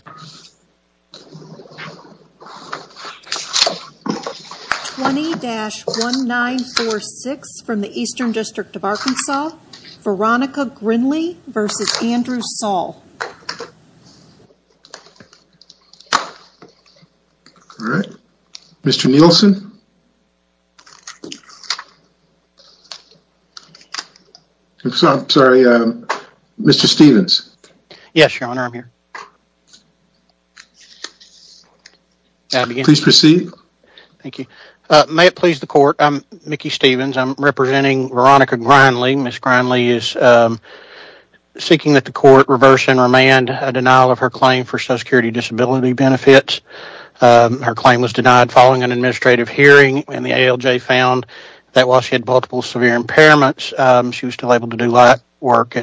20-1946 from the Eastern District of Arkansas, Veronica Grindley v. Andrew Saul Mr. Nielsen? I'm sorry, Mr. Stevens? May it please the court, I'm Mickey Stevens, I'm representing Veronica Grindley, Ms. Grindley is seeking that the court reverse and remand a denial of her claim for Social Security Disability benefits. Her claim was denied following an administrative hearing and the ALJ found that while she had multiple severe impairments, she was still able to do that work,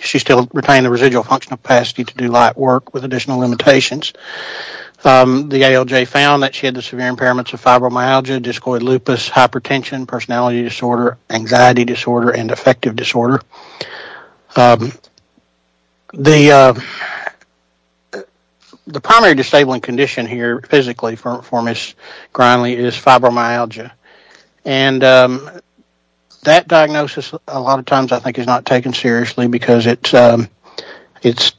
she still retained the functional capacity to do light work with additional limitations. The ALJ found that she had the severe impairments of fibromyalgia, discoid lupus, hypertension, personality disorder, anxiety disorder, and affective disorder. The primary disabling condition here physically for Ms. Grindley is fibromyalgia and that it's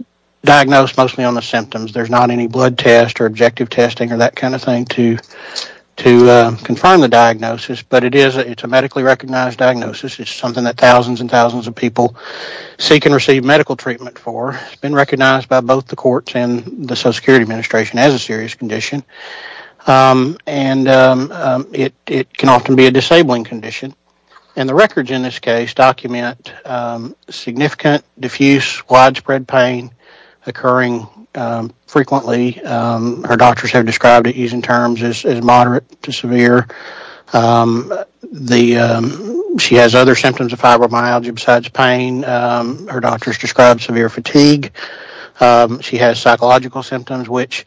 diagnosed mostly on the symptoms, there's not any blood test or objective testing or that kind of thing to confirm the diagnosis, but it is a medically recognized diagnosis, it's something that thousands and thousands of people seek and receive medical treatment for, it's been recognized by both the courts and the Social Security Administration as a serious condition, and it can often be a disabling condition, and the records in this case document significant, diffuse, widespread pain occurring frequently, her doctors have described it using terms as moderate to severe. She has other symptoms of fibromyalgia besides pain, her doctors describe severe fatigue, she has psychological symptoms, which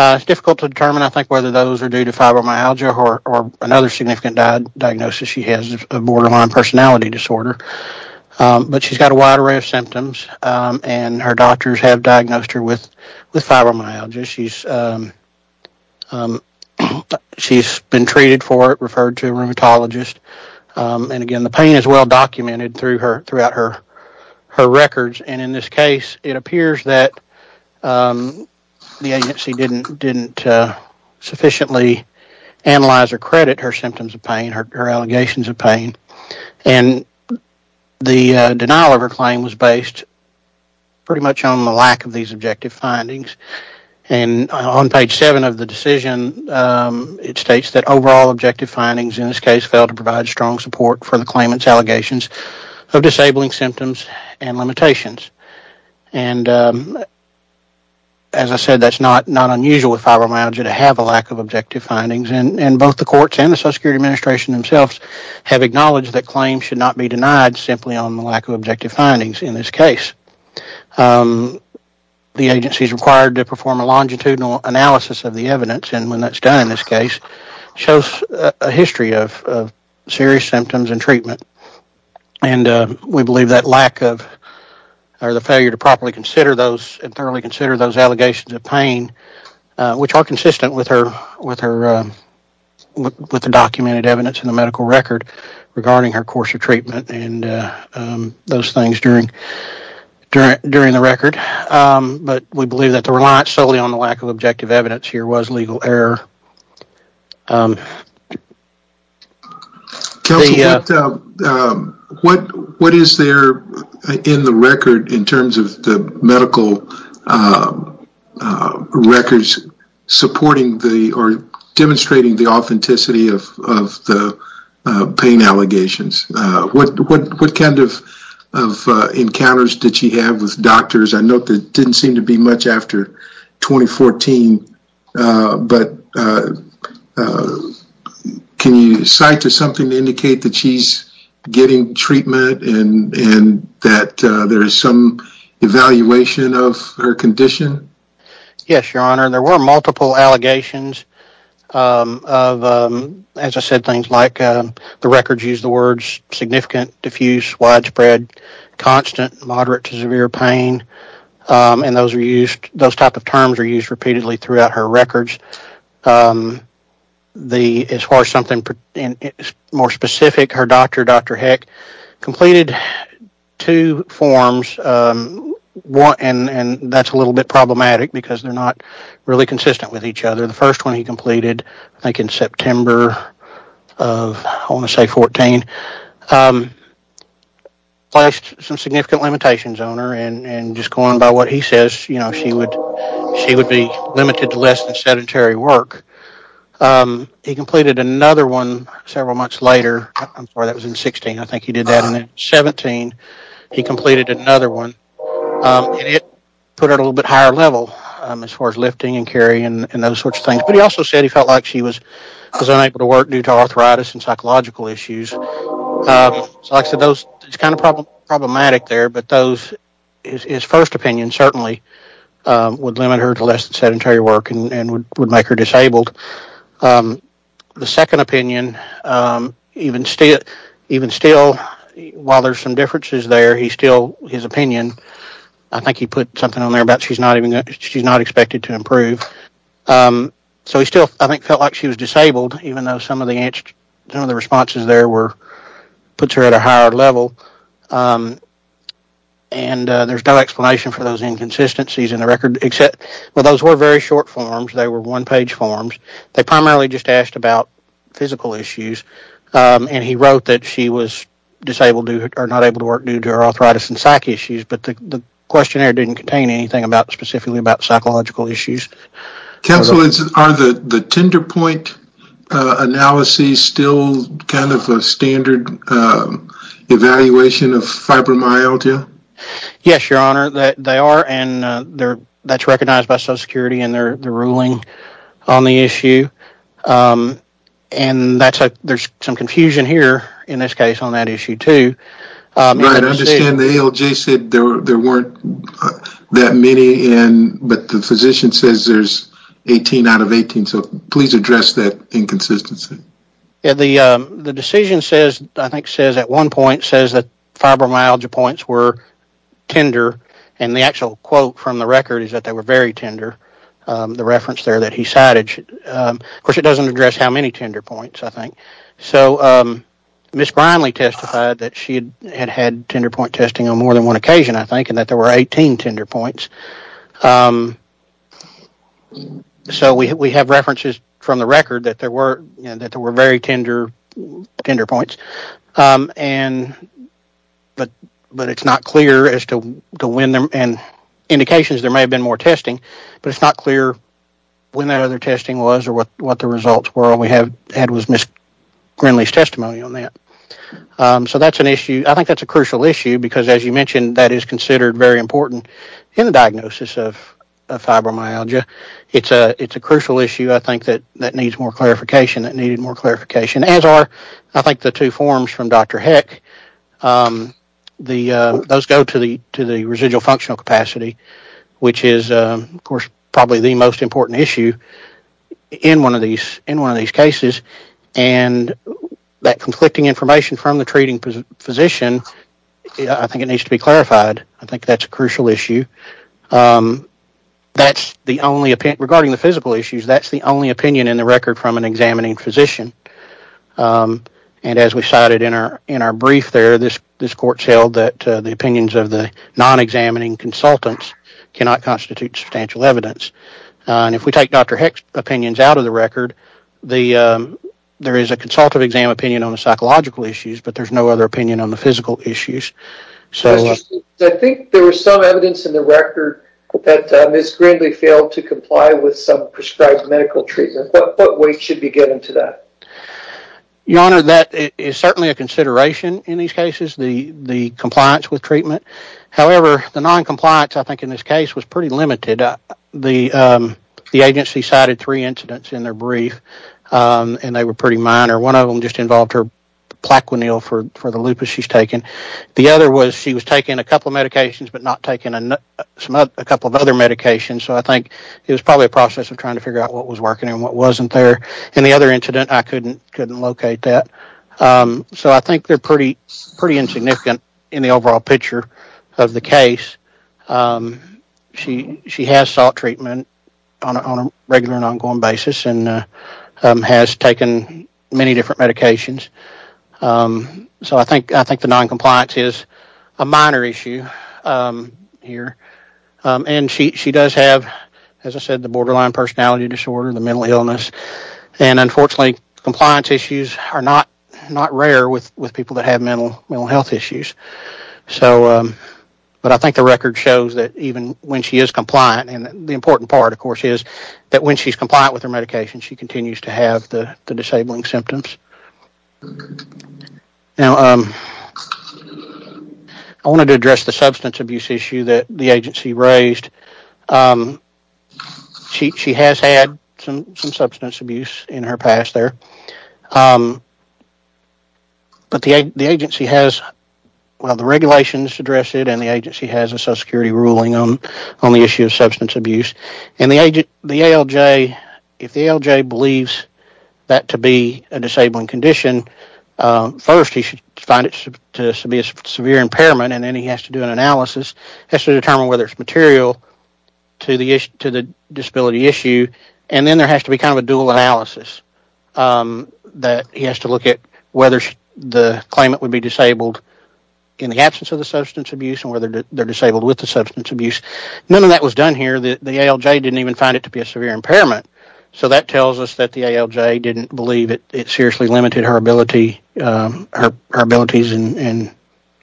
it's difficult to determine I think whether those are due to fibromyalgia or another significant diagnosis she has of borderline personality disorder, but she's got a wide array of symptoms and her doctors have diagnosed her with fibromyalgia, she's been treated for it, referred to a rheumatologist, and again the pain is well documented throughout her records, and in this case it appears that the agency didn't sufficiently analyze or the denial of her claim was based pretty much on the lack of these objective findings, and on page 7 of the decision it states that overall objective findings in this case fail to provide strong support for the claimant's allegations of disabling symptoms and limitations, and as I said that's not unusual with fibromyalgia to have a lack of objective findings, and both the courts and the Social Security Administration themselves have acknowledged that claims should not be denied simply on the lack of objective findings in this case. The agency's required to perform a longitudinal analysis of the evidence, and when that's done in this case shows a history of serious symptoms and treatment, and we believe that lack of, or the failure to properly consider those, and thoroughly consider those allegations of pain, which are consistent with her, with the documented evidence in the medical record regarding her course of treatment, and those things during the record, but we believe that the reliance solely on the lack of objective evidence here was legal error. Counsel, what is there in the record in terms of the medical records supporting the, or the pain allegations? What kind of encounters did she have with doctors? I know it didn't seem to be much after 2014, but can you cite to something to indicate that she's getting treatment and that there is some evaluation of her condition? Yes, Your Honor, there were multiple allegations of, as I said, things like the records use the words significant, diffuse, widespread, constant, moderate to severe pain, and those are used, those type of terms are used repeatedly throughout her records. As far as something more specific, her doctor, Dr. Heck, completed two forms, and that's a little bit problematic because they're not really consistent with each other. The first one he completed, I think in September of, I want to say 2014, placed some significant limitations on her, and just going by what he says, you know, she would be limited to less than sedentary work. He completed another one several months later, that was in 16, I think he did that in 17, he completed another one, and it put her at a little bit higher level as far as lifting and carrying and those sorts of things, but he also said he felt like she was unable to work due to arthritis and psychological issues. So like I said, those, it's kind of problematic there, but those, his first opinion certainly would limit her to less disabled. The second opinion, even still, while there's some differences there, he still, his opinion, I think he put something on there about she's not even, she's not expected to improve. So he still, I think, felt like she was disabled, even though some of the responses there puts her at a higher level, and there's no explanation for those inconsistencies in the forms. They primarily just asked about physical issues, and he wrote that she was disabled or not able to work due to her arthritis and psych issues, but the questionnaire didn't contain anything specifically about psychological issues. Counsel, are the tender point analyses still kind of a standard evaluation of fibromyalgia? Yes, your honor, they are, and that's recognized by Social Security in their ruling on the issue, and that's, there's some confusion here in this case on that issue too. Right, I understand the ALJ said there weren't that many in, but the physician says there's 18 out of 18, so please address that inconsistency. Yeah, the decision says, I think says at one point, says that fibromyalgia points were tender, and the actual quote from the record is that they were very tender, the reference there that he cited. Of course, it doesn't address how many tender points, I think, so Ms. Grinley testified that she had had tender point testing on more than one occasion, I think, and that there were 18 tender points, so we have references from the record that there were, you know, that there were very tender tender points, but it's not clear as to when, and indications there may have been more testing, but it's not clear when that other testing was or what the results were, and we have, had Ms. Grinley's testimony on that, so that's an issue. I think that's a crucial issue, because as you mentioned, that is considered very important in the diagnosis of fibromyalgia. It's a crucial issue, I think, that needs more clarification, that needed more clarification, I think the two forms from Dr. Heck, those go to the residual functional capacity, which is, of course, probably the most important issue in one of these cases, and that conflicting information from the treating physician, I think it needs to be clarified. I think that's a crucial issue. That's the only, regarding the physical issues, that's the only issue, and as we cited in our brief there, this court held that the opinions of the non-examining consultants cannot constitute substantial evidence, and if we take Dr. Heck's opinions out of the record, there is a consultative exam opinion on the psychological issues, but there's no other opinion on the physical issues. I think there was some evidence in the record that Ms. Grinley failed to comply with some prescribed medical treatment. What weight should be given to that? Your Honor, that is certainly a consideration in these cases, the compliance with treatment. However, the non-compliance, I think in this case, was pretty limited. The agency cited three incidents in their brief, and they were pretty minor. One of them just involved her Plaquenil for the lupus she's taken. The other was she was taking a couple of medications, but not taking a couple of other medications, so I think it was probably a process of trying to figure out what was working and what wasn't there, and the other incident, I couldn't locate that, so I think they're pretty insignificant in the overall picture of the case. She has sought treatment on a regular and ongoing basis and has taken many different medications, so I think the non-compliance is a minor issue here, and she does have, as I said, the borderline personality disorder, the mental illness, and unfortunately, compliance issues are not rare with people that have mental health issues, but I think the record shows that even when she is compliant, and the important part, of course, is that when she's compliant with her medication, she continues to have the disabling symptoms. Now, I wanted to address the substance abuse issue that the agency raised. She has had some substance abuse in her past there, but the agency has, well, the regulations address it, and the agency has a social security ruling on the issue of substance abuse, and the ALJ, if the ALJ believes that to be a disabling condition, first, he should find it to be a severe impairment, and then he has to do an analysis, has to determine whether it's material to the disability issue, and then there has to be kind of a dual analysis that he has to look at whether the claimant would be disabled in the absence of the substance abuse and whether they're disabled with the substance abuse. None of that was done here. The ALJ didn't even find it to be a severe impairment, so that tells us that the ALJ didn't seriously limit her abilities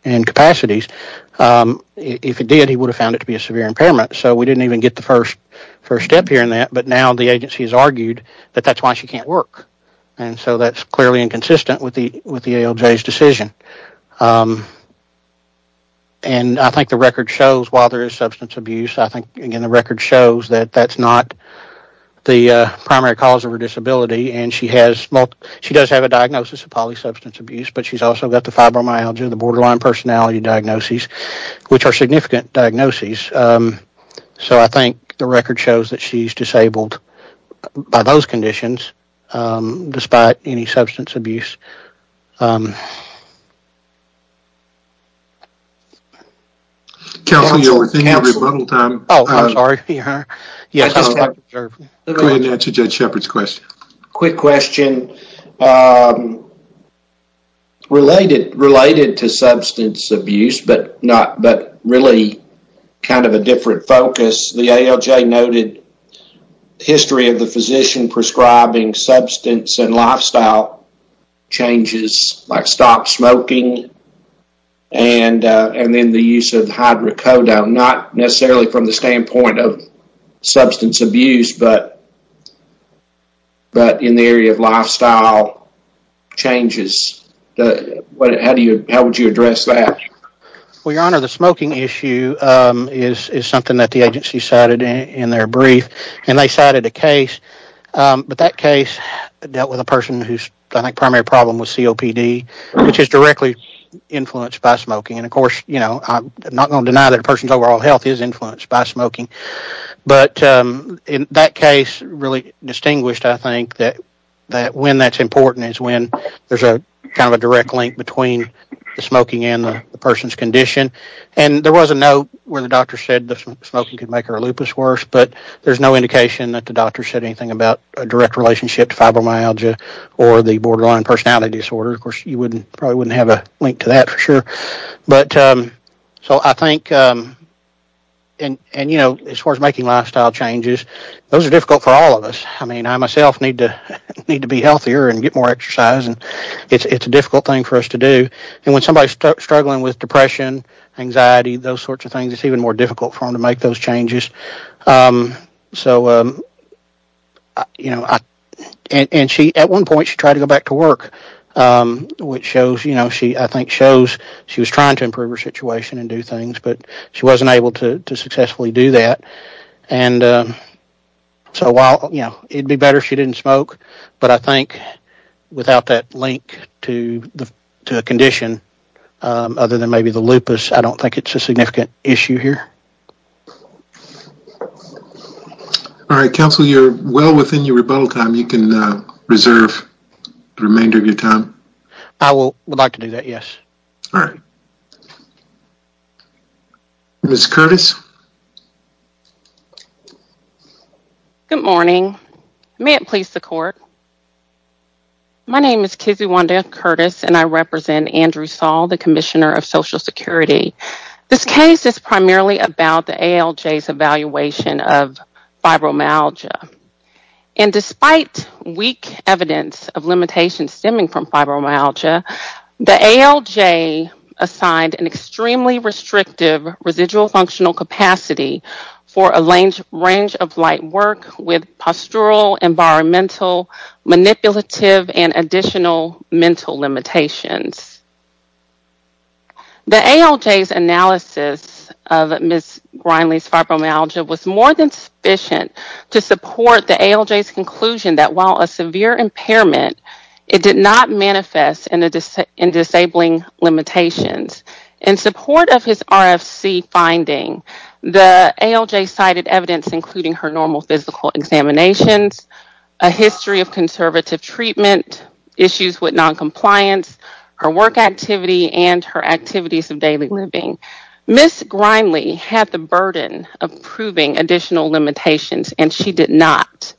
and capacities. If he did, he would have found it to be a severe impairment, so we didn't even get the first step here in that, but now the agency has argued that that's why she can't work, and so that's clearly inconsistent with the ALJ's decision, and I think the record shows, while there is substance abuse, I think, again, the record shows that that's not the primary cause of her disability, and she does have a diagnosis of polysubstance abuse, but she's also got the fibromyalgia, the borderline personality diagnoses, which are significant diagnoses, so I think the record shows that she's disabled by those conditions, despite any substance abuse. Counsel, you're within your rebuttal time. Oh, I'm sorry. Go ahead and answer Judge Shepard's question. Quick question. Related to substance abuse, but really kind of a different focus, the ALJ noted history of the physician prescribing substance and lifestyle changes, like stop smoking, and then the use of hydrocodone, not necessarily from the standpoint of substance abuse, but in the area of lifestyle changes. How would you address that? Well, your honor, the smoking issue is something that the agency cited in their brief, and they cited a case, but that case dealt with a person whose, I think, primary problem was COPD, which is directly influenced by smoking, and of course, you know, I'm not going to deny that a person's overall health is influenced by smoking, but in that case, really distinguished, I think, that when that's important is when there's a kind of a direct link between the smoking and the person's condition, and there was a note where the doctor said that smoking could make her lupus worse, but there's no indication that the doctor said anything about a direct relationship to fibromyalgia or the borderline personality disorder. Of course, you probably wouldn't have a link to that for sure, but so I think, and you know, as far as making lifestyle changes, those are difficult for all of us. I mean, I myself need to be healthier and get more exercise, and it's a difficult thing for us to do, and when somebody's struggling with depression, anxiety, those sorts of things, it's even more difficult for them to make those changes. So, you know, and she, at one point, she tried to go back to work, which shows, you know, she, I think, shows she was trying to improve her situation and do things, but she wasn't able to successfully do that, and so while, you know, it'd be better if she didn't smoke, but I think without that link to the condition, other than maybe the lupus, I don't think it's a significant issue here. All right, counsel, you're well within your rebuttal time. You can reserve the remainder of your time. I would like to do that, yes. All right. Ms. Curtis. Good morning. May it please the court. My name is Kizzi Wanda Curtis, and I represent Andrew Saul, the Commissioner of Social Security. This case is primarily about the ALJ's evaluation of fibromyalgia, and despite weak evidence of limitations stemming from fibromyalgia, the ALJ assigned an extremely restrictive residual functional condition to the ALJ, and the ALJ's analysis of Ms. Grindley's fibromyalgia was more than sufficient to support the ALJ's conclusion that while a severe impairment, it did not manifest in disabling limitations. In support of his RFC finding, the ALJ cited evidence including her normal physical examinations, a history of conservative treatment, issues with non-compliance, her work activity, and her activities of daily living. Ms. Grindley had the burden of proving additional limitations, and she did not.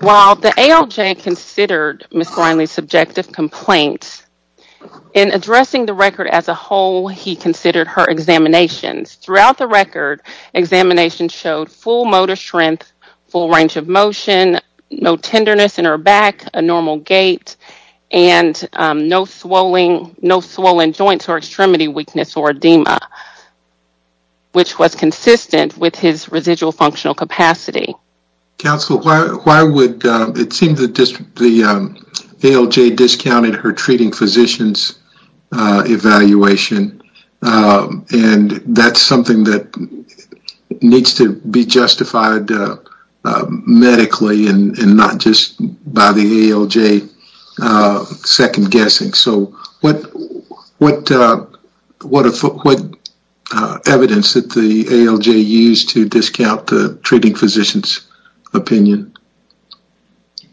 While the ALJ considered Ms. Grindley's subjective complaints, in addressing the record as a whole, he considered her examinations. Throughout the record, examinations showed full motor strength, full range of motion, no tenderness in her back, a normal gait, and no swollen joints or extremity weakness or edema, which was consistent with his residual functional capacity. Counsel, why would, it seems that the ALJ discounted her treating physicians evaluation, and that's something that needs to be justified medically and not just by the ALJ second-guessing. So, what evidence did the ALJ use to discount the treating physician's opinion?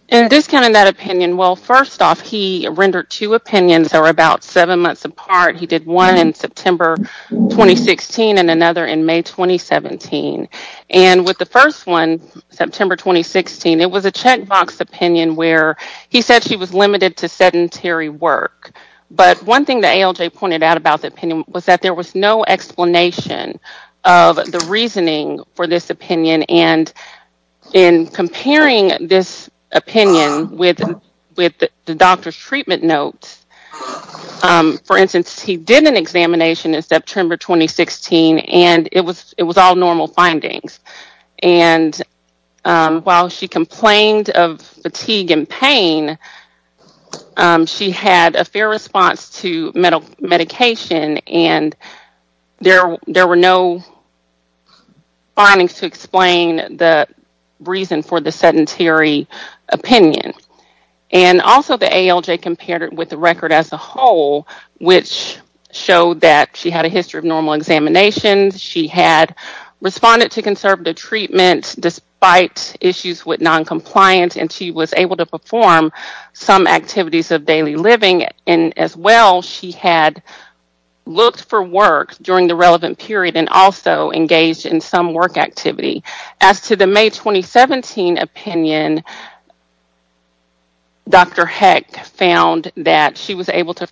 In discounting that opinion, well, first off, he rendered two opinions that were about seven months apart. He did one in September 2016 and another in May 2017. And with the first one, September 2016, it was a checkbox opinion where he said she was limited to sedentary work. But one thing the ALJ pointed out about the opinion was that there was no explanation of the reasoning for this opinion. And in comparing this opinion with the doctor's treatment notes, for instance, he did an examination in September 2016, and it was while she complained of fatigue and pain, she had a fair response to medication, and there were no findings to explain the reason for the sedentary opinion. And also, the ALJ compared it with the record as a whole, which showed that she had a history of normal examinations, she had responded to conservative treatment despite issues with noncompliance, and she was able to perform some activities of daily living. And as well, she had looked for work during the relevant period and also engaged in some work activity. As to the May 2017 opinion, Dr. Heck found that she was able to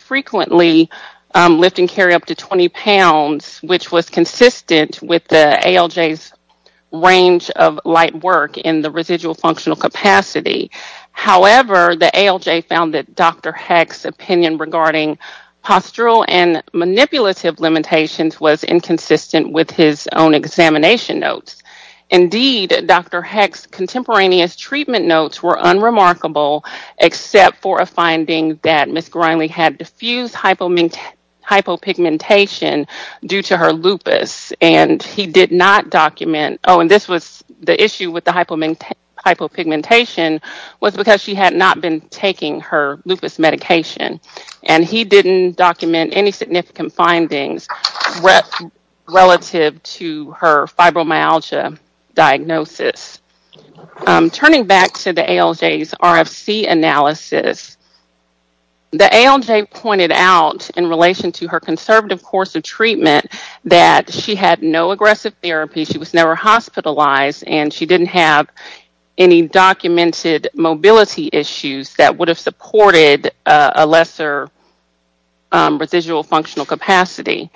range of light work in the residual functional capacity. However, the ALJ found that Dr. Heck's opinion regarding postural and manipulative limitations was inconsistent with his own examination notes. Indeed, Dr. Heck's contemporaneous treatment notes were unremarkable except for a finding that Ms. Grindley had diffused hypopigmentation due to her lupus, and he did not document, oh, and this was the issue with the hypopigmentation was because she had not been taking her lupus medication, and he didn't document any significant findings relative to her fibromyalgia diagnosis. Turning back to the ALJ's RFC analysis, the ALJ pointed out in relation to her conservative course of treatment that she had no aggressive therapy, she was never hospitalized, and she didn't have any documented mobility issues that would have supported a lesser residual functional capacity.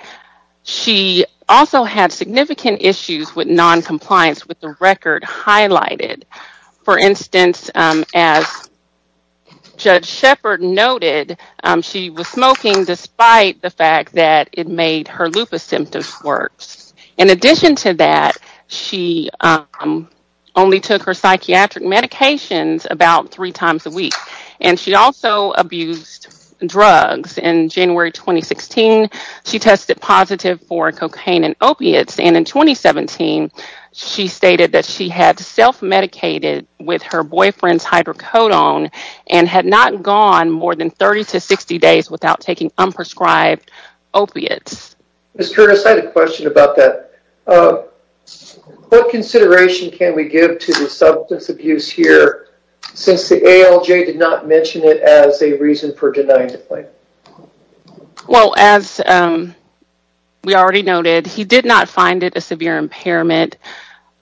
She also had significant issues with noted she was smoking despite the fact that it made her lupus symptoms worse. In addition to that, she only took her psychiatric medications about three times a week, and she also abused drugs. In January 2016, she tested positive for cocaine and opiates, and in 2017, she stated that she had self-medicated with her boyfriend's hydrocodone and had not gone more than 30 to 60 days without taking unprescribed opiates. Ms. Curtis, I had a question about that. What consideration can we give to the substance abuse here since the ALJ did not mention it as a reason for denying the claim? Well, as we already noted, he did not find it a severe impairment.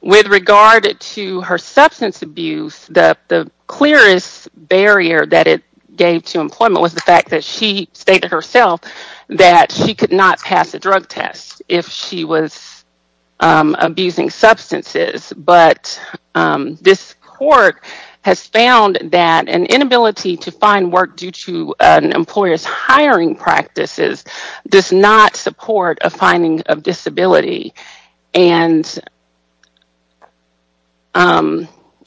With regard to her substance abuse, the clearest barrier that it gave to employment was the fact that she stated herself that she could not pass a drug test if she was abusing substances, but this court has found that an inability to find work due to an employer's hiring practices does not support a finding of an employee.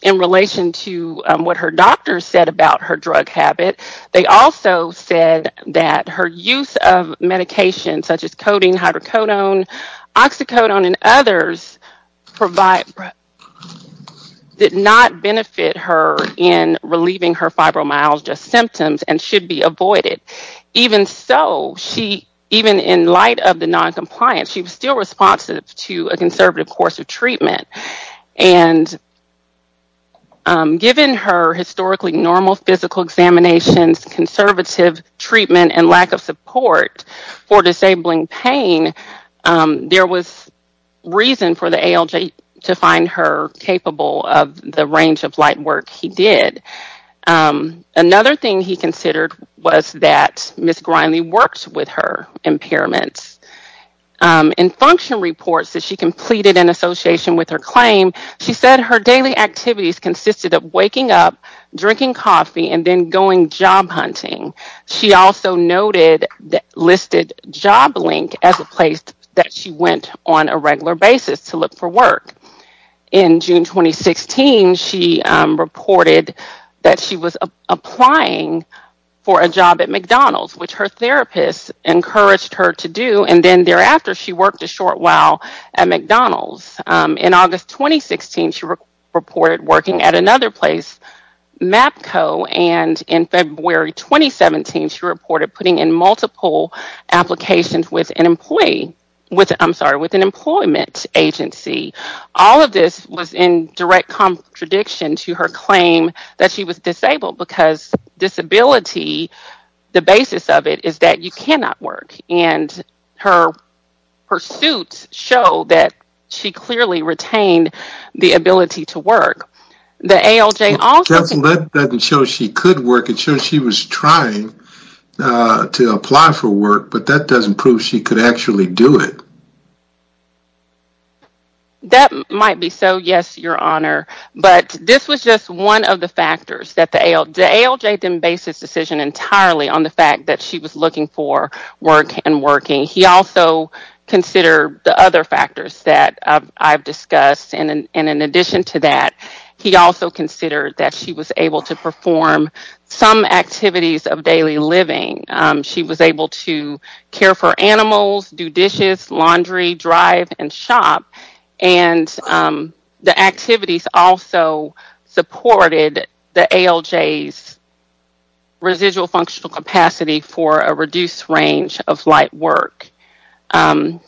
In relation to what her doctors said about her drug habit, they also said that her use of medications such as codeine, hydrocodone, oxycodone, and others did not benefit her in relieving her fibromyalgia symptoms and should be avoided. Even so, even in light of the noncompliance, she was still responsive to a conservative course of treatment. Given her historically normal physical examinations, conservative treatment, and lack of support for disabling pain, there was reason for the ALJ to find her of the range of light work he did. Another thing he considered was that Ms. Grindley worked with her impairments. In function reports that she completed in association with her claim, she said her daily activities consisted of waking up, drinking coffee, and then going job hunting. She also noted that listed Joblink as a place that she went on a regular basis to look for work. In June 2016, she reported that she was applying for a job at McDonald's, which her therapist encouraged her to do, and then thereafter, she worked a short while at McDonald's. In August 2016, she reported working at another place, MAPCO, and in February 2017, she reported putting in multiple applications with an employment agency. All of this was in direct contradiction to her claim that she was disabled because disability, the basis of it is that you cannot work, and her pursuits show that she clearly retained the ability to work. The ALJ also- apply for work, but that doesn't prove she could actually do it. That might be so, yes, your honor, but this was just one of the factors that the ALJ then based this decision entirely on the fact that she was looking for work and working. He also considered the other factors that I've discussed, and in addition to that, he also considered that she was able to care for animals, do dishes, laundry, drive, and shop, and the activities also supported the ALJ's residual functional capacity for a reduced range of light work. The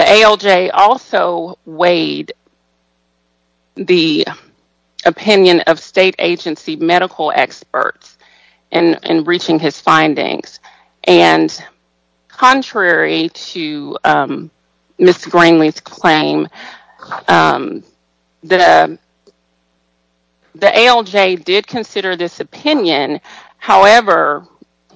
ALJ also weighed the opinion of state agency medical experts in reaching his findings, and contrary to Ms. Greenlee's claim, the ALJ did consider this opinion, however,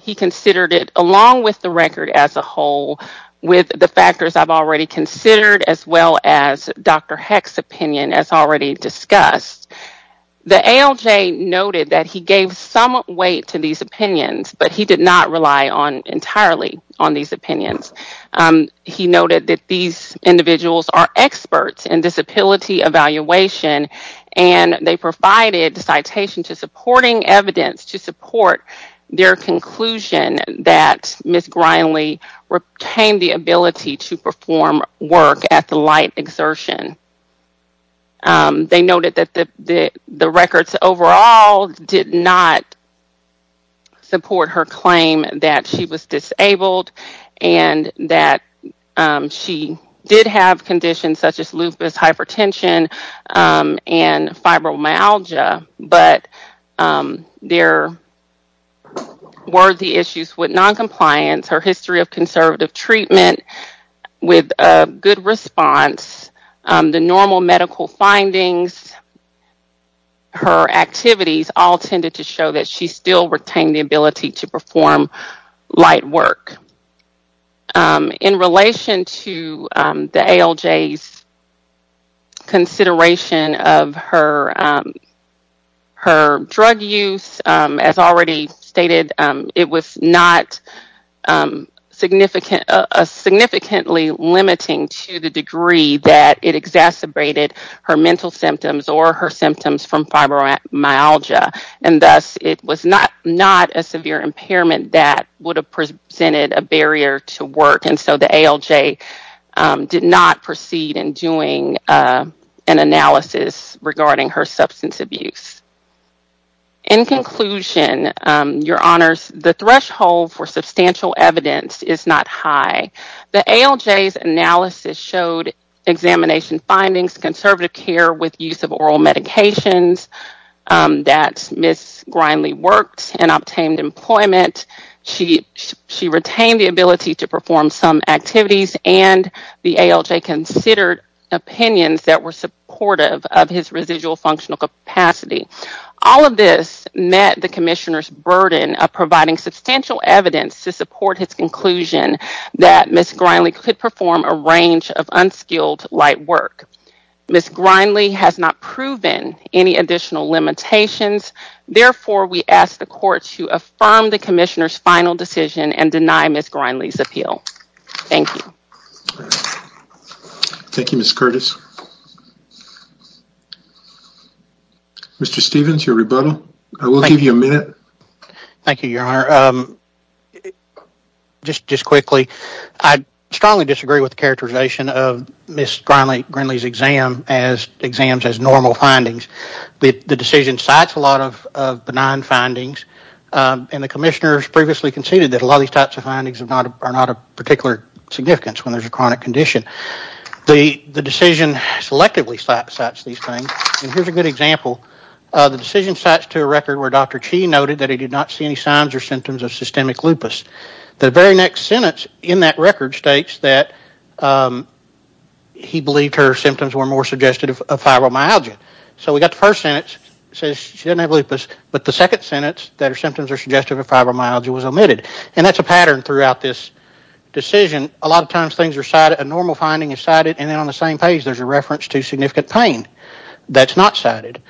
he considered it along with the record as a whole, with the factors I've already considered, as well as Dr. Heck's opinion, as already discussed. The ALJ noted that he gave some weight to these opinions, but he did not rely on entirely on these opinions. He noted that these individuals are experts in disability evaluation, and they provided citation to evidence to support their conclusion that Ms. Greenlee retained the ability to perform work at the light exertion. They noted that the records overall did not support her claim that she was disabled and that she did have conditions such as lupus, hypertension, and fibromyalgia, but there were the issues with non-compliance, her history of conservative treatment with a good response, the normal medical findings, her activities all tended to show that she still retained the ability to perform light work. In relation to the ALJ's consideration of her drug use, as already stated, it was not significantly limiting to the degree that it exacerbated her mental symptoms or her symptoms from fibromyalgia, and thus it was not a severe impairment that would have presented a barrier to work, and so the ALJ did not proceed in doing an analysis regarding her substance abuse. In conclusion, your honors, the threshold for substantial evidence is not high. The ALJ's analysis showed examination findings, conservative care with use of oral medications that Ms. Greenlee worked and obtained employment. She retained the ability to perform some activities and the ALJ considered opinions that were supportive of his residual functional capacity. All of this met the commissioner's burden of providing substantial evidence to support his conclusion that Ms. Greenlee could perform a range of unskilled light work. Ms. Greenlee has not proven any additional limitations, therefore we ask the appeal. Thank you. Thank you, Ms. Curtis. Mr. Stephens, your rebuttal. I will give you a minute. Thank you, your honor. Just quickly, I strongly disagree with the characterization of Ms. Greenlee's exam as exams as normal findings. The decision cites a lot of benign findings and the commissioners previously conceded that a lot of these types of findings are not of particular significance when there's a chronic condition. The decision selectively cites these things and here's a good example. The decision cites to a record where Dr. Chee noted that he did not see any signs or symptoms of systemic lupus. The very next sentence in that record states that he believed her symptoms were more suggestive of fibromyalgia. So we got the first sentence that says she doesn't have lupus, but the second pattern throughout this decision, a lot of times things are cited, a normal finding is cited and then on the same page there's a reference to significant pain that's not cited.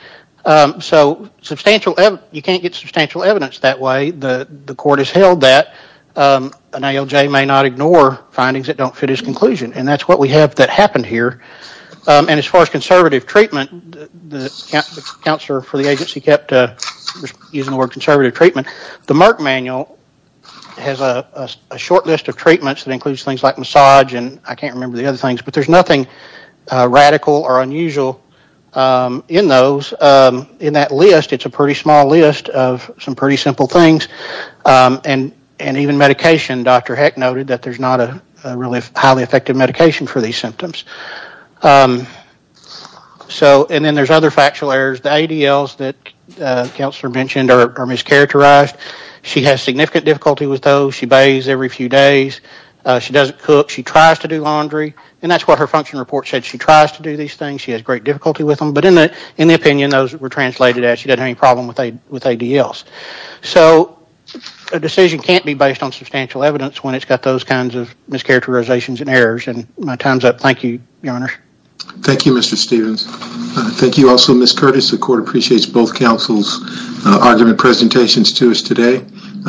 So substantial, you can't get substantial evidence that way. The court has held that an ALJ may not ignore findings that don't fit his conclusion and that's what we have that happened here. And as far as conservative treatment, the counselor for the agency kept using the word a short list of treatments that includes things like massage and I can't remember the other things, but there's nothing radical or unusual in those. In that list, it's a pretty small list of some pretty simple things and even medication. Dr. Heck noted that there's not a really highly effective medication for these symptoms. So and then there's other factual errors. The ADLs that counselor mentioned are mischaracterized. She has significant difficulty with those. She bathes every few days. She doesn't cook. She tries to do laundry and that's what her function report said. She tries to do these things. She has great difficulty with them, but in the opinion those were translated as she doesn't have any problem with ADLs. So a decision can't be based on substantial evidence when it's got those kinds of mischaracterizations and errors and my time's up. Thank you, your honor. Thank you, Mr. Stevens. Thank you also, Ms. Curtis. The court appreciates both counsel's argument presentations to us today.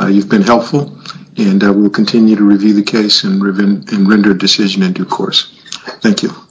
You've been helpful and we'll continue to review the case and render a decision in due course. Thank you.